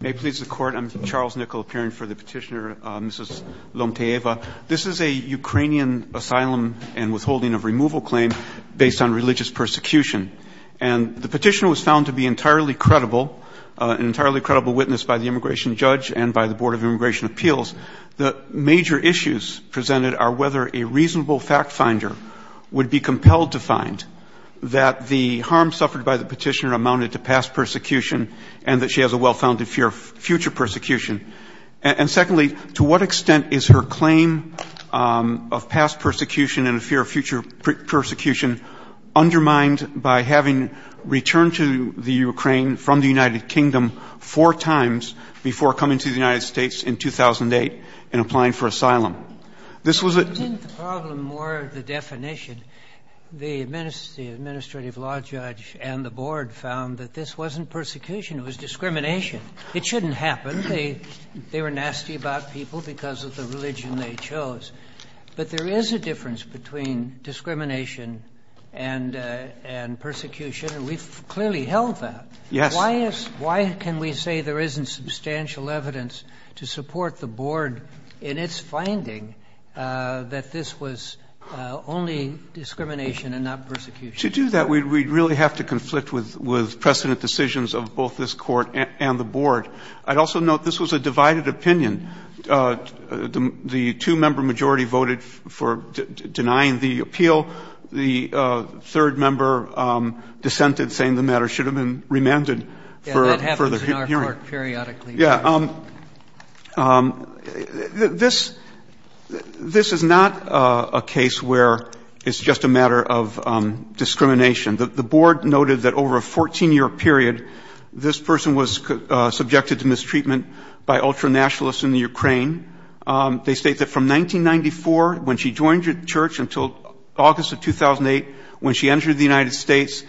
May it please the Court, I'm Charles Nickel appearing for the petitioner, Mrs. Lomtyeva. This is a Ukrainian asylum and withholding of removal claim based on religious persecution. And the petitioner was found to be entirely credible, an entirely credible witness by the immigration judge and by the Board of Immigration Appeals. The major issues presented are whether a reasonable fact finder would be compelled to find that the harm suffered by the petitioner amounted to past persecution and that she has a well-founded fear of future persecution. And secondly, to what extent is her claim of past persecution and a fear of future persecution undermined by having returned to the Ukraine from the United Kingdom four times before coming to the United States in 2008 and applying for asylum? This was a problem more the definition. The administrative law judge and the board found that this wasn't persecution, it was discrimination. It shouldn't happen. They were nasty about people because of the religion they chose. But there is a difference between discrimination and persecution, and we've clearly held that. Why can we say there isn't substantial evidence to support the board in its finding that this was only discrimination and not persecution? To do that, we'd really have to conflict with precedent decisions of both this court and the board. I'd also note this was a divided opinion. The two-member majority voted for denying the appeal. The third member dissented, saying the matter should have been remanded for further hearing. Yeah, that happens in our court periodically. Yeah. This is not a case where it's just a matter of discrimination. The board noted that over a 14-year period, this person was subjected to mistreatment by ultranationalists in the Ukraine. They state that from 1994, when she joined the church until August of 2008, when she entered the United States,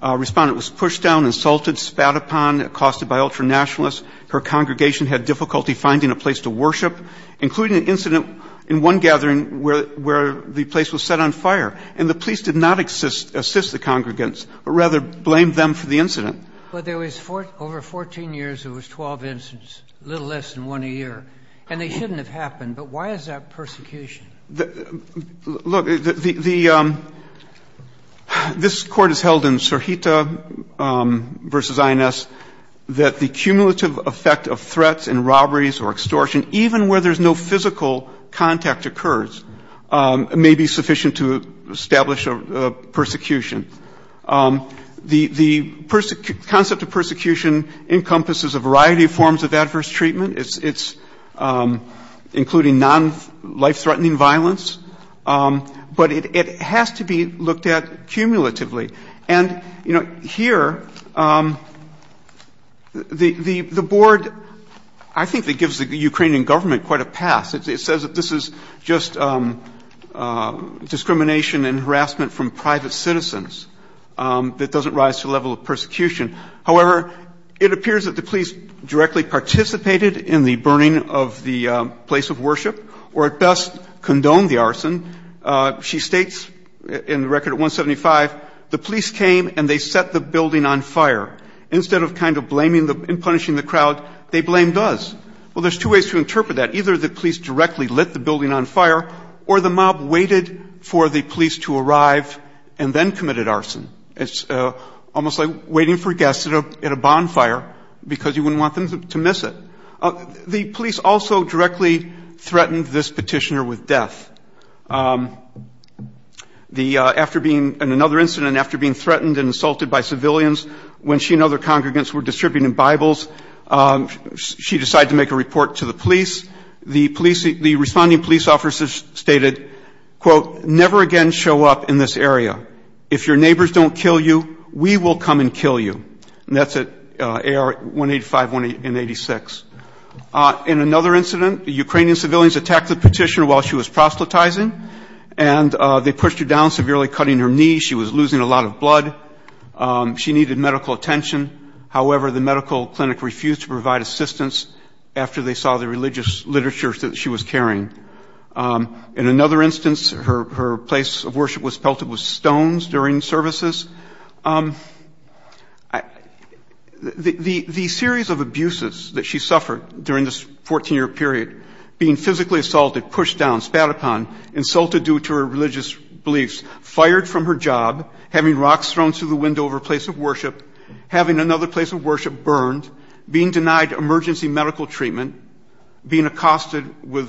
a respondent was pushed down, insulted, spat upon, accosted by ultranationalists. Her congregation had difficulty finding a place to worship, including an incident in one gathering where the place was set on fire. And the police did not assist the congregants, but rather blamed them for the incident. But there was over 14 years, there was 12 incidents, a little less than one a year. And they shouldn't have happened. But why is that persecution? Look, the — this Court has held in Serhita v. INS that the cumulative effect of threats and robberies or extortion, even where there's no physical contact occurs, may be sufficient to establish a persecution. The concept of persecution encompasses a variety of forms of adverse treatment. It's including non-life-threatening violence. But it has to be looked at cumulatively. And, you know, here, the board, I think, that gives the Ukrainian government quite a pass. It says that this is just discrimination and harassment from private citizens that doesn't rise to the level of persecution. However, it appears that the police directly participated in the burning of the place of worship, or at best, condoned the arson. She states in Record 175, the police came and they set the building on fire. Instead of kind of blaming and punishing the crowd, they blamed us. Well, there's two ways to interpret that. Either the police directly lit the building on fire, or the mob waited for the police to arrive and then committed arson. It's almost like waiting for guests at a bonfire because you wouldn't want them to miss it. The police also directly threatened this petitioner with death. The – after being – in another incident, after being threatened and assaulted by civilians, when she and other congregants were distributing Bibles, she decided to make a report to the police. The police – the quote, never again show up in this area. If your neighbors don't kill you, we will come and kill you. And that's at AR 185 and 86. In another incident, Ukrainian civilians attacked the petitioner while she was proselytizing, and they pushed her down, severely cutting her knee. She was losing a lot of blood. She needed medical attention. However, the medical clinic refused to provide assistance after they saw the religious literature that she was carrying. In another instance, her place of worship was pelted with stones during services. The series of abuses that she suffered during this 14-year period – being physically assaulted, pushed down, spat upon, insulted due to her religious beliefs, fired from her job, having rocks thrown through the window of her place of worship, having another place of worship burned, being denied emergency medical treatment, being accosted by an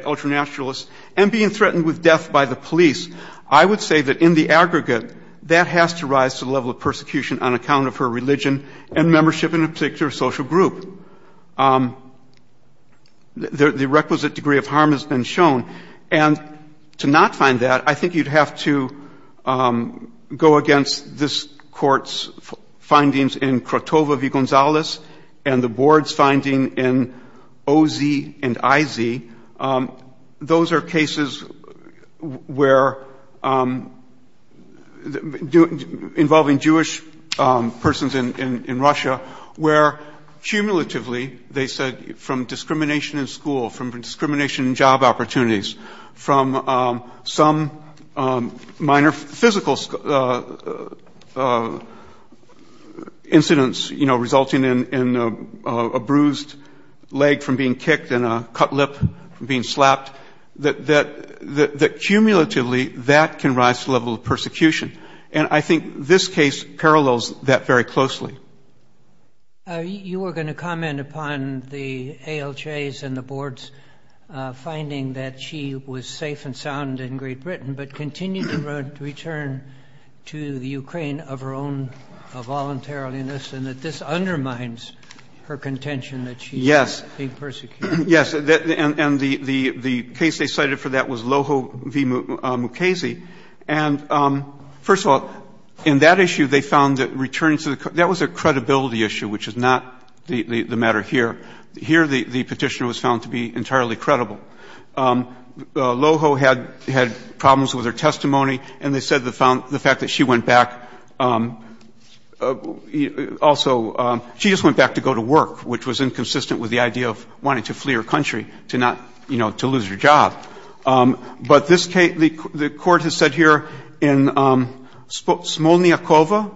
ultranationalist, and being threatened with death by the police – I would say that in the aggregate, that has to rise to the level of persecution on account of her religion and membership in a particular social group. The requisite degree of harm has been shown. And to not find that, I think you'd have to go against this Court's findings in Krotovo v. Gonzalez and the Board's finding in O.Z. and I.Z. Those are cases where – involving Jewish persons in Russia – where cumulatively, they said, from discrimination in school, from discrimination in job opportunities, from some minor physical incidents, you know, resulting in a bruised leg from being kicked and a cut lip from being slapped – that cumulatively, that can rise to the level of persecution. And I think this case parallels that very closely. You were going to comment upon the ALJs and the Board's finding that she was safe and sound in Great Britain but continued to return to the Ukraine of her own voluntariliness and that this undermines her contention that she should be persecuted. Yes. Yes. And the case they cited for that was Loho v. Mukasey. And, first of all, in that issue, they found that returning to the – that was a credibility issue, which is not the matter here. Here, the Petitioner was found to be entirely credible. Loho had problems with her testimony, and they said the fact that she went back, also, she just went back to go to work, which was inconsistent with the idea of wanting to flee her country to not, you know, to lose her job. But this case, the Court has said here, in Smolniakova,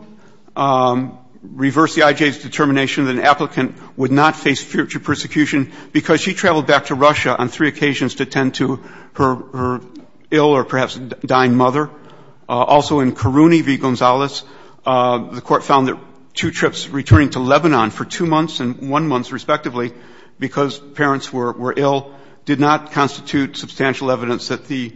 reversed the IJ's determination that an applicant would not face future persecution because she traveled back to Russia on three occasions to tend to her ill or perhaps dying mother. Also in Karouni v. Gonzalez, the Court found that two trips, returning to Lebanon for two months and one month, respectively, because parents were ill, did not constitute substantial evidence that the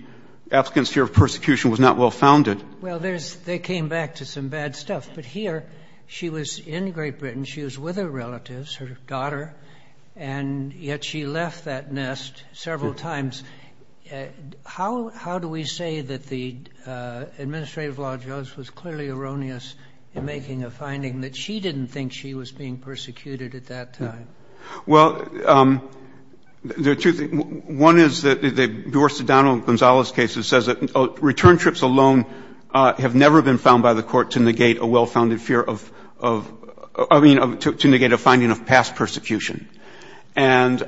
applicant's fear of persecution was not well founded. Well, there's – they came back to some bad stuff. But here, she was in Great Britain. She was with her relatives, her daughter, and yet she left that nest several times. How do we say that the administrative law judge was clearly erroneous in making a finding that she didn't think she was being persecuted at that time? Well, there are two things. One is that the Dorsodano-Gonzalez case says that return trips alone have never been found by the Court to negate a well-founded fear of – I mean, to negate a finding of past persecution. And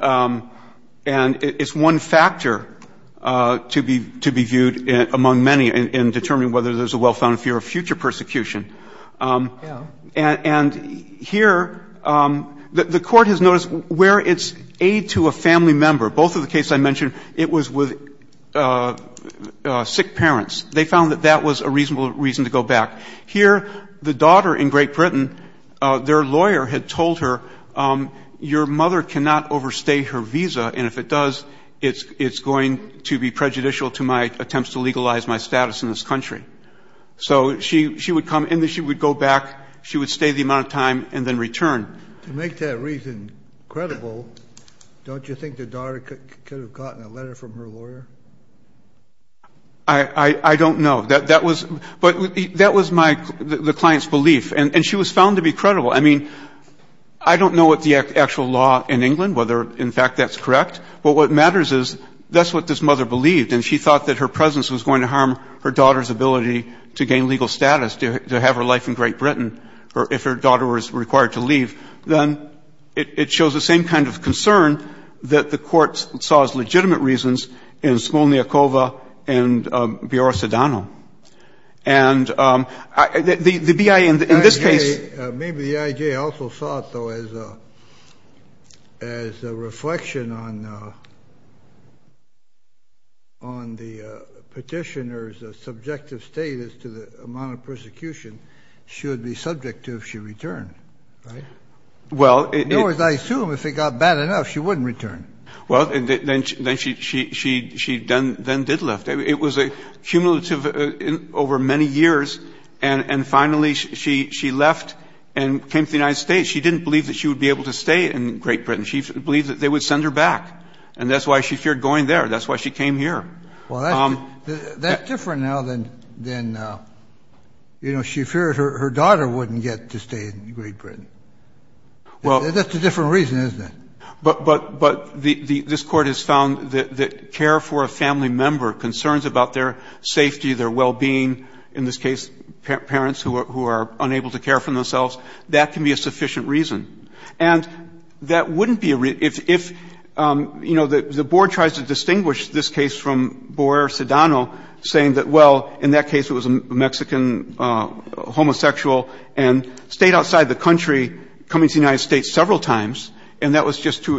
it's one factor to be viewed among many in determining whether there's a well-founded fear of future persecution. And here, the Court has noticed where it's aid to a family member, both of the cases I mentioned, it was with sick parents. They found that that was a reasonable reason to make that reason credible, don't you think the daughter could have gotten a letter from her lawyer? I don't know. That was my – the client's belief. And she was found to be credible. I mean, I don't know what the actual law in England, whether, in fact, that's correct. But what matters is that's what this mother believed. And she thought that her presence was going to harm her daughter's ability to gain legal status, to have her life in Great Britain if her daughter was required to leave. Then it shows the same kind of concern that the Court saw as legitimate reasons in Smolniakova and Biorra-Sedano. And the BIA, in this case — The IJ – maybe the IJ also thought, though, as a reflection on the Petitioner's subjective status to the amount of persecution, she would be subject to if she returned, right? Well, it – In other words, I assume if it got bad enough, she wouldn't return. Well, then she then did leave. It was cumulative over many years. And finally, she left and came to the United States. She didn't believe that she would be able to stay in Great Britain. She believed that they would send her back. And that's why she feared going there. That's why she came here. Well, that's different now than, you know, she feared her daughter wouldn't get to stay in Great Britain. That's a different reason, isn't it? But this Court has found that care for a family member, concerns about their safety, their well-being, in this case parents who are unable to care for themselves, that can be a sufficient reason. And that wouldn't be a – if, you know, the Board tries to boyer Sedano, saying that, well, in that case it was a Mexican homosexual and stayed outside the country, coming to the United States several times, and that was just to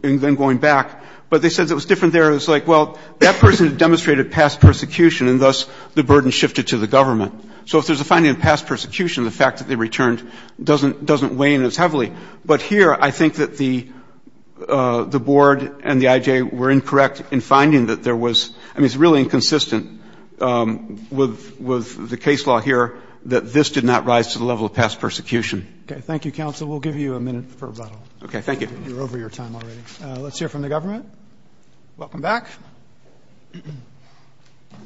– and then going back. But they said it was different there. It was like, well, that person demonstrated past persecution, and thus the burden shifted to the government. So if there's a finding of past persecution, the fact that they returned doesn't weigh in as heavily. But here, I think that the Board and the IJ were incorrect in finding that there was – I mean, it's really inconsistent with the case law here that this did not rise to the level of past persecution. Okay. Thank you, counsel. We'll give you a minute for rebuttal. Okay. Thank you. You're over your time already. Let's hear from the government. Welcome back.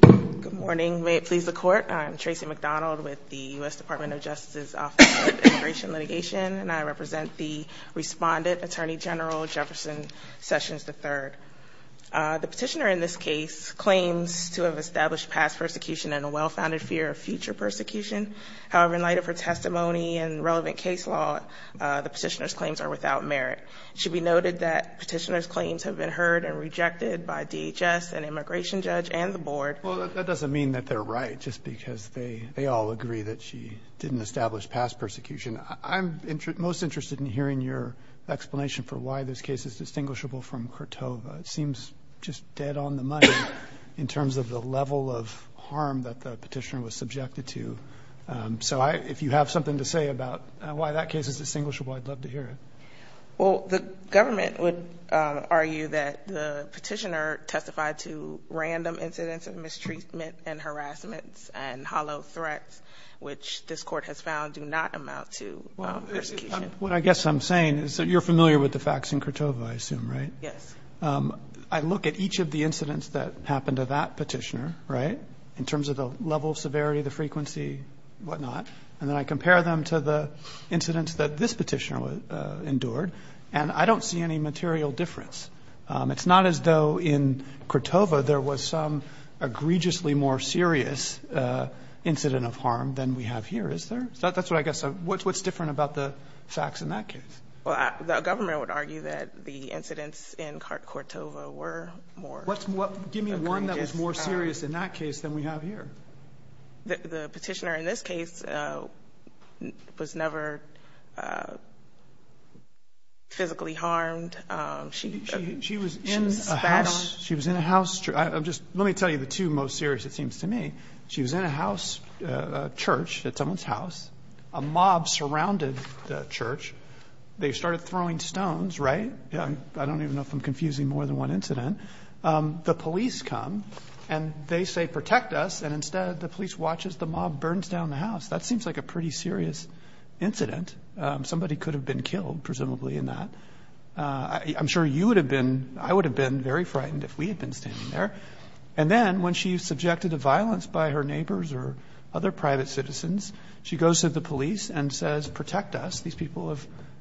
Good morning. May it please the Court. I'm Tracy McDonald with the U.S. Department of Justice's Office of Immigration Litigation, and I represent the Respondent, Attorney General Jefferson Sessions III. The petitioner in this case claims to have established past persecution in a well-founded fear of future persecution. However, in light of her testimony and relevant case law, the petitioner's claims are without merit. It should be noted that petitioner's claims have been heard and rejected by DHS, an immigration judge, and the Board. Well, that doesn't mean that they're right, just because they all agree that she didn't establish past persecution. I'm most interested in hearing your explanation for why this case is distinguishable from Kortova. It seems just dead on the money in terms of the level of harm that the petitioner was subjected to. So if you have something to say about why that case is distinguishable, I'd love to hear it. Well, the government would argue that the petitioner testified to random incidents of which the facts found do not amount to persecution. What I guess I'm saying is that you're familiar with the facts in Kortova, I assume, right? Yes. I look at each of the incidents that happened to that petitioner, right, in terms of the level of severity, the frequency, whatnot, and then I compare them to the incidents that this petitioner endured, and I don't see any material difference. It's not as though in Kortova there was a more serious incident of harm than we have here, is there? That's what I guess, what's different about the facts in that case? Well, the government would argue that the incidents in Kortova were more... Give me one that was more serious in that case than we have here. The petitioner in this case was never physically harmed. She was in a house... Let me tell you the two most serious, it seems to me. She was in a house, a church at someone's house, a mob surrounded the church. They started throwing stones, right? I don't even know if I'm confusing more than one incident. The police come, and they say, protect us, and instead the police watch as the mob burns down the house. That seems like a pretty serious incident. Somebody could have been killed, presumably, in that. I'm sure you would have been, I would have been very frightened if we had been standing there. And then when she's subjected to violence by her neighbors or other private citizens, she goes to the police and says, protect us, these people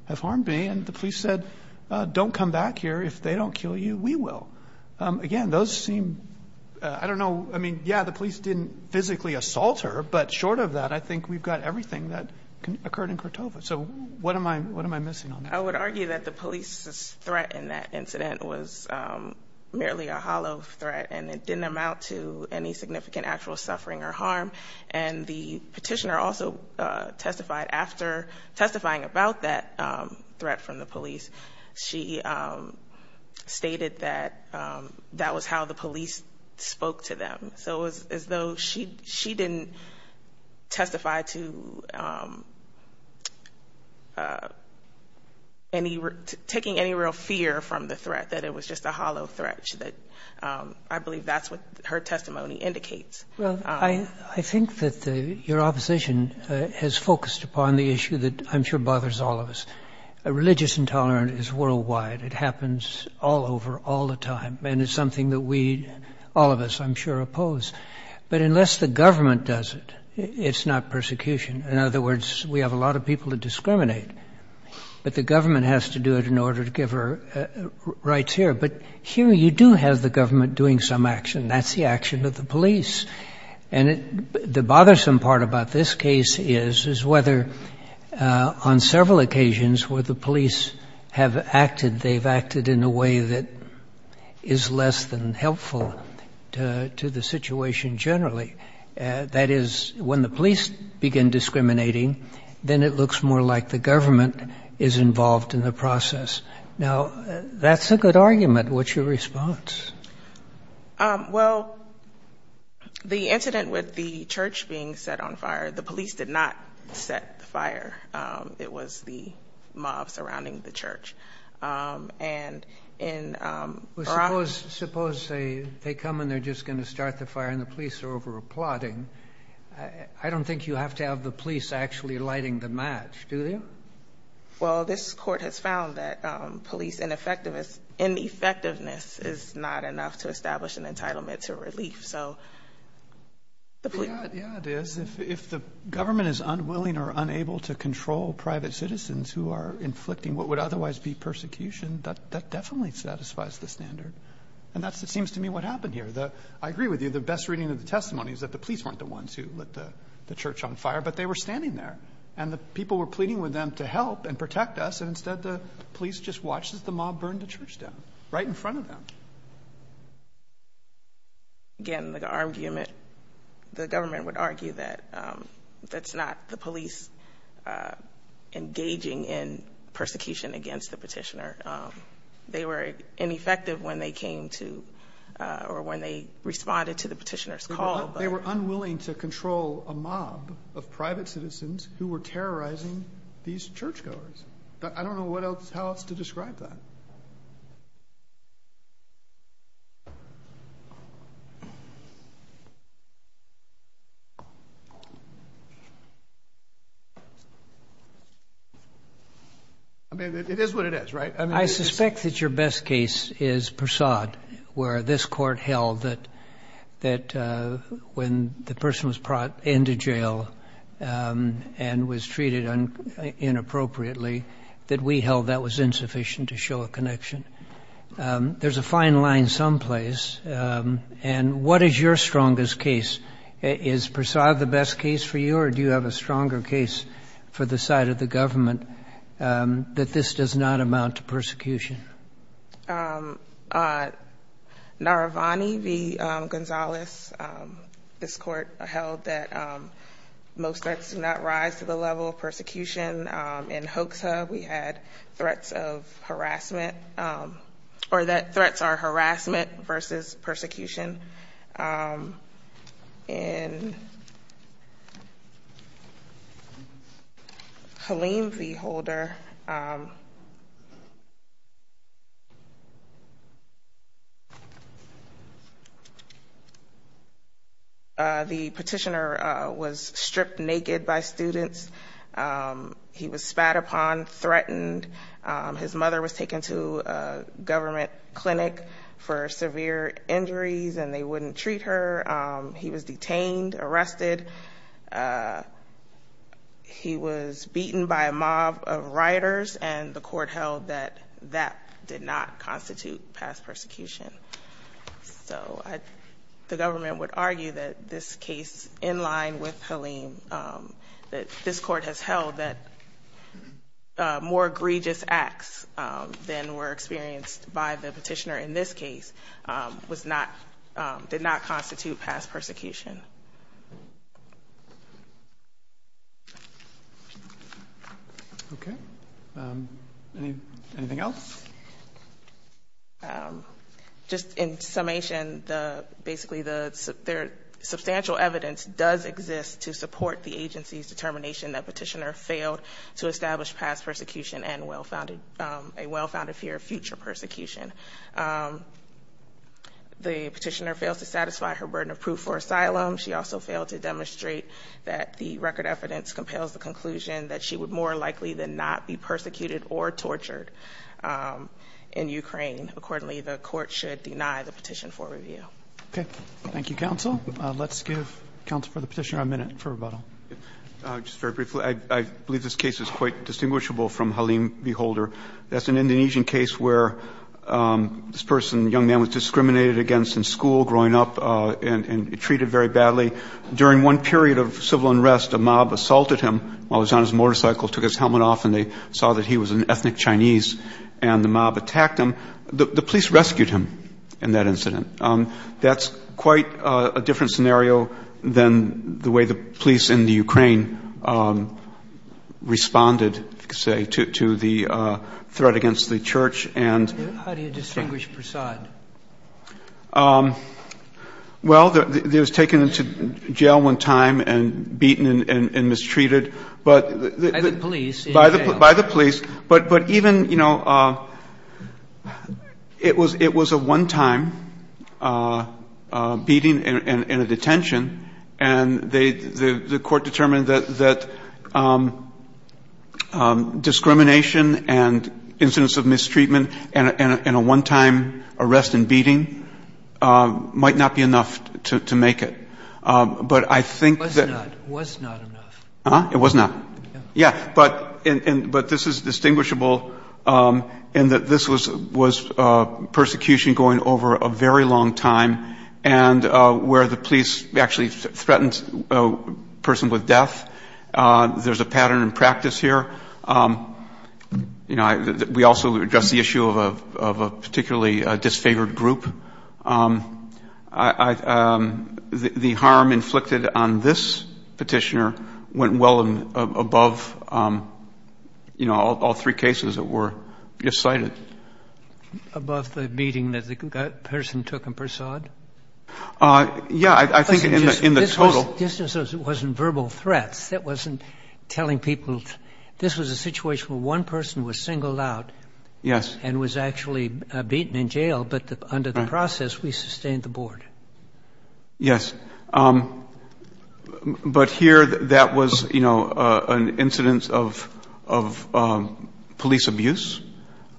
have harmed me, and the police said, don't come back here. If they don't kill you, we will. Again, those seem... I don't know. I mean, yeah, the police didn't physically assault her, but short of that, I think we've got everything that occurred in Kortova. So what am I missing on that? I would argue that the police's threat in that incident was merely a hollow threat, and it didn't amount to any significant actual suffering or harm. And the petitioner also testified after testifying about that threat from the police. She stated that that was how the police spoke to them. So it was as though she didn't testify to taking any real fear from the threat, that it was just a hollow threat. I believe that's what her testimony indicates. Well, I think that your opposition has focused upon the issue that I'm sure bothers all of us. Religious intolerance is worldwide. It happens all over, all the time. And it's something that we, all of us, I'm sure, oppose. But unless the government does it, it's not persecution. In other words, we have a lot of people to discriminate. But the government has to do it in order to give her rights here. But here you do have the government doing some action. That's the action of the police. And the bothersome part about this case is whether on several occasions where the police have acted, they've acted in a way that is less than helpful to the situation generally. That is, when the police begin discriminating, then it looks more like the government is involved in the process. Now, that's a good argument. What's your response? Well, the incident with the church being set on fire, the police did not set the fire. It was the mob surrounding the church. And in Iraq... Well, suppose they come and they're just going to start the fire and the police are over-applauding. I don't think you have to have the police actually lighting the match, do you? Well, this court has found that police ineffectiveness is not enough to establish an entitlement to relief. Yeah, it is. If the government is unwilling or unable to control private citizens who are inflicting what would otherwise be persecution, that definitely satisfies the standard. And that seems to me what happened here. I agree with you. The best reading of the testimony is that the police weren't the ones who lit the church on fire, but they were standing there. And the people were pleading with them to help and protect us, and instead the police just watched as the mob burned the church down, right in front of them. Again, the argument... The government would argue that that's not the police engaging in persecution against the petitioner. They were ineffective when they came to, or when they responded to the petitioner's call. They were unwilling to control a mob of private citizens who were terrorizing these churchgoers. I don't know what else, how else to describe that. I mean, it is what it is, right? I suspect that your best case is Persaud, where this court held that when the person was brought into jail and was treated inappropriately, that we held that was insufficient to show a connection. There's a fine line someplace, and what is your strongest case? Is Persaud the best case for you, or do you have a stronger case for the side of the government that this does not amount to persecution? Naravani v. Gonzalez. This court held that most threats do not rise to the level of persecution. In Hoxha, we had threats of harassment, or that threats are harassment versus persecution. In Helene v. Holder, the petitioner was stripped naked by students. He was spat upon, threatened. His mother was taken to a government clinic for severe injuries, and they wouldn't treat her. He was detained, arrested. He was beaten by a mob of rioters, and the court held that that did not constitute past persecution. So the government would argue that this case, in line with Helene, that this court has held that more egregious acts than were experienced by the petitioner in this case did not constitute past persecution. Okay. Anything else? Just in summation, basically substantial evidence does exist to support the agency's determination that petitioner failed to establish past persecution and a well-founded fear of future persecution. The petitioner fails to satisfy her burden of proof for asylum. She also failed to demonstrate that the record evidence compels the conclusion that she would more likely than not be persecuted or tortured in Ukraine. Accordingly, the court should deny the petition for review. Okay. Thank you, counsel. Let's give counsel for the petitioner a minute for rebuttal. Just very briefly, I believe this case is quite distinguishable from Helene v. Holder. That's an Indonesian case where this young man was discriminated against in school growing up and treated very badly. During one period of civil unrest, a mob assaulted him while he was on his motorcycle, took his helmet off, and they saw that he was an ethnic Chinese, and the mob attacked him. The police rescued him in that incident. That's quite a different scenario than the way the police in the Ukraine responded, say, to the threat against the church. How do you distinguish Prasad? Well, he was taken into jail one time and beaten and mistreated. By the police? By the police. But even, you know, it was a one-time beating and a detention, and the court determined that discrimination and incidents of mistreatment and a one-time arrest and beating might not be enough to make it. But I think that... It was not. It was not enough. It was not. Yeah. But this is distinguishable in that this was persecution going over a very long time and where the police actually threatened a person with death. There's a pattern in practice here. You know, we also address the issue of a particularly disfavored group. The harm inflicted on this petitioner went well above, you know, all three cases that were cited. Above the beating that the person took in Prasad? Yeah, I think in the total. This wasn't verbal threats. That wasn't telling people. This was a situation where one person was singled out and was actually beaten in jail, but under the process, we sustained the board. Yes. But here, that was, you know, an incident of police abuse,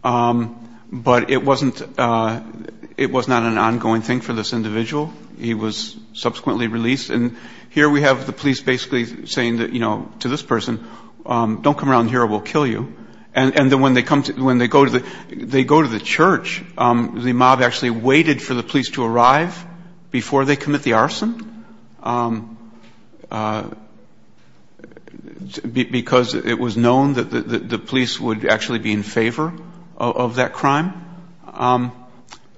but it wasn't an ongoing thing for this individual. He was subsequently released, and here we have the police basically saying to this person, don't come around here or we'll kill you. And then when they go to the church, the mob actually waited for the police to arrive before they commit the arson because it was known that the police would actually be in favor of that crime.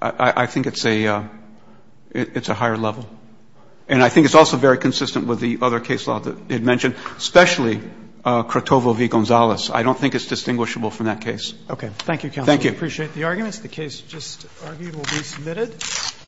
I think it's a higher level. And I think it's also very consistent with the other case law that they had mentioned, especially Crotovo v. Gonzalez. I don't think it's distinguishable from that case. Okay. Thank you, counsel. Thank you. We appreciate the arguments. The case just argued will be submitted.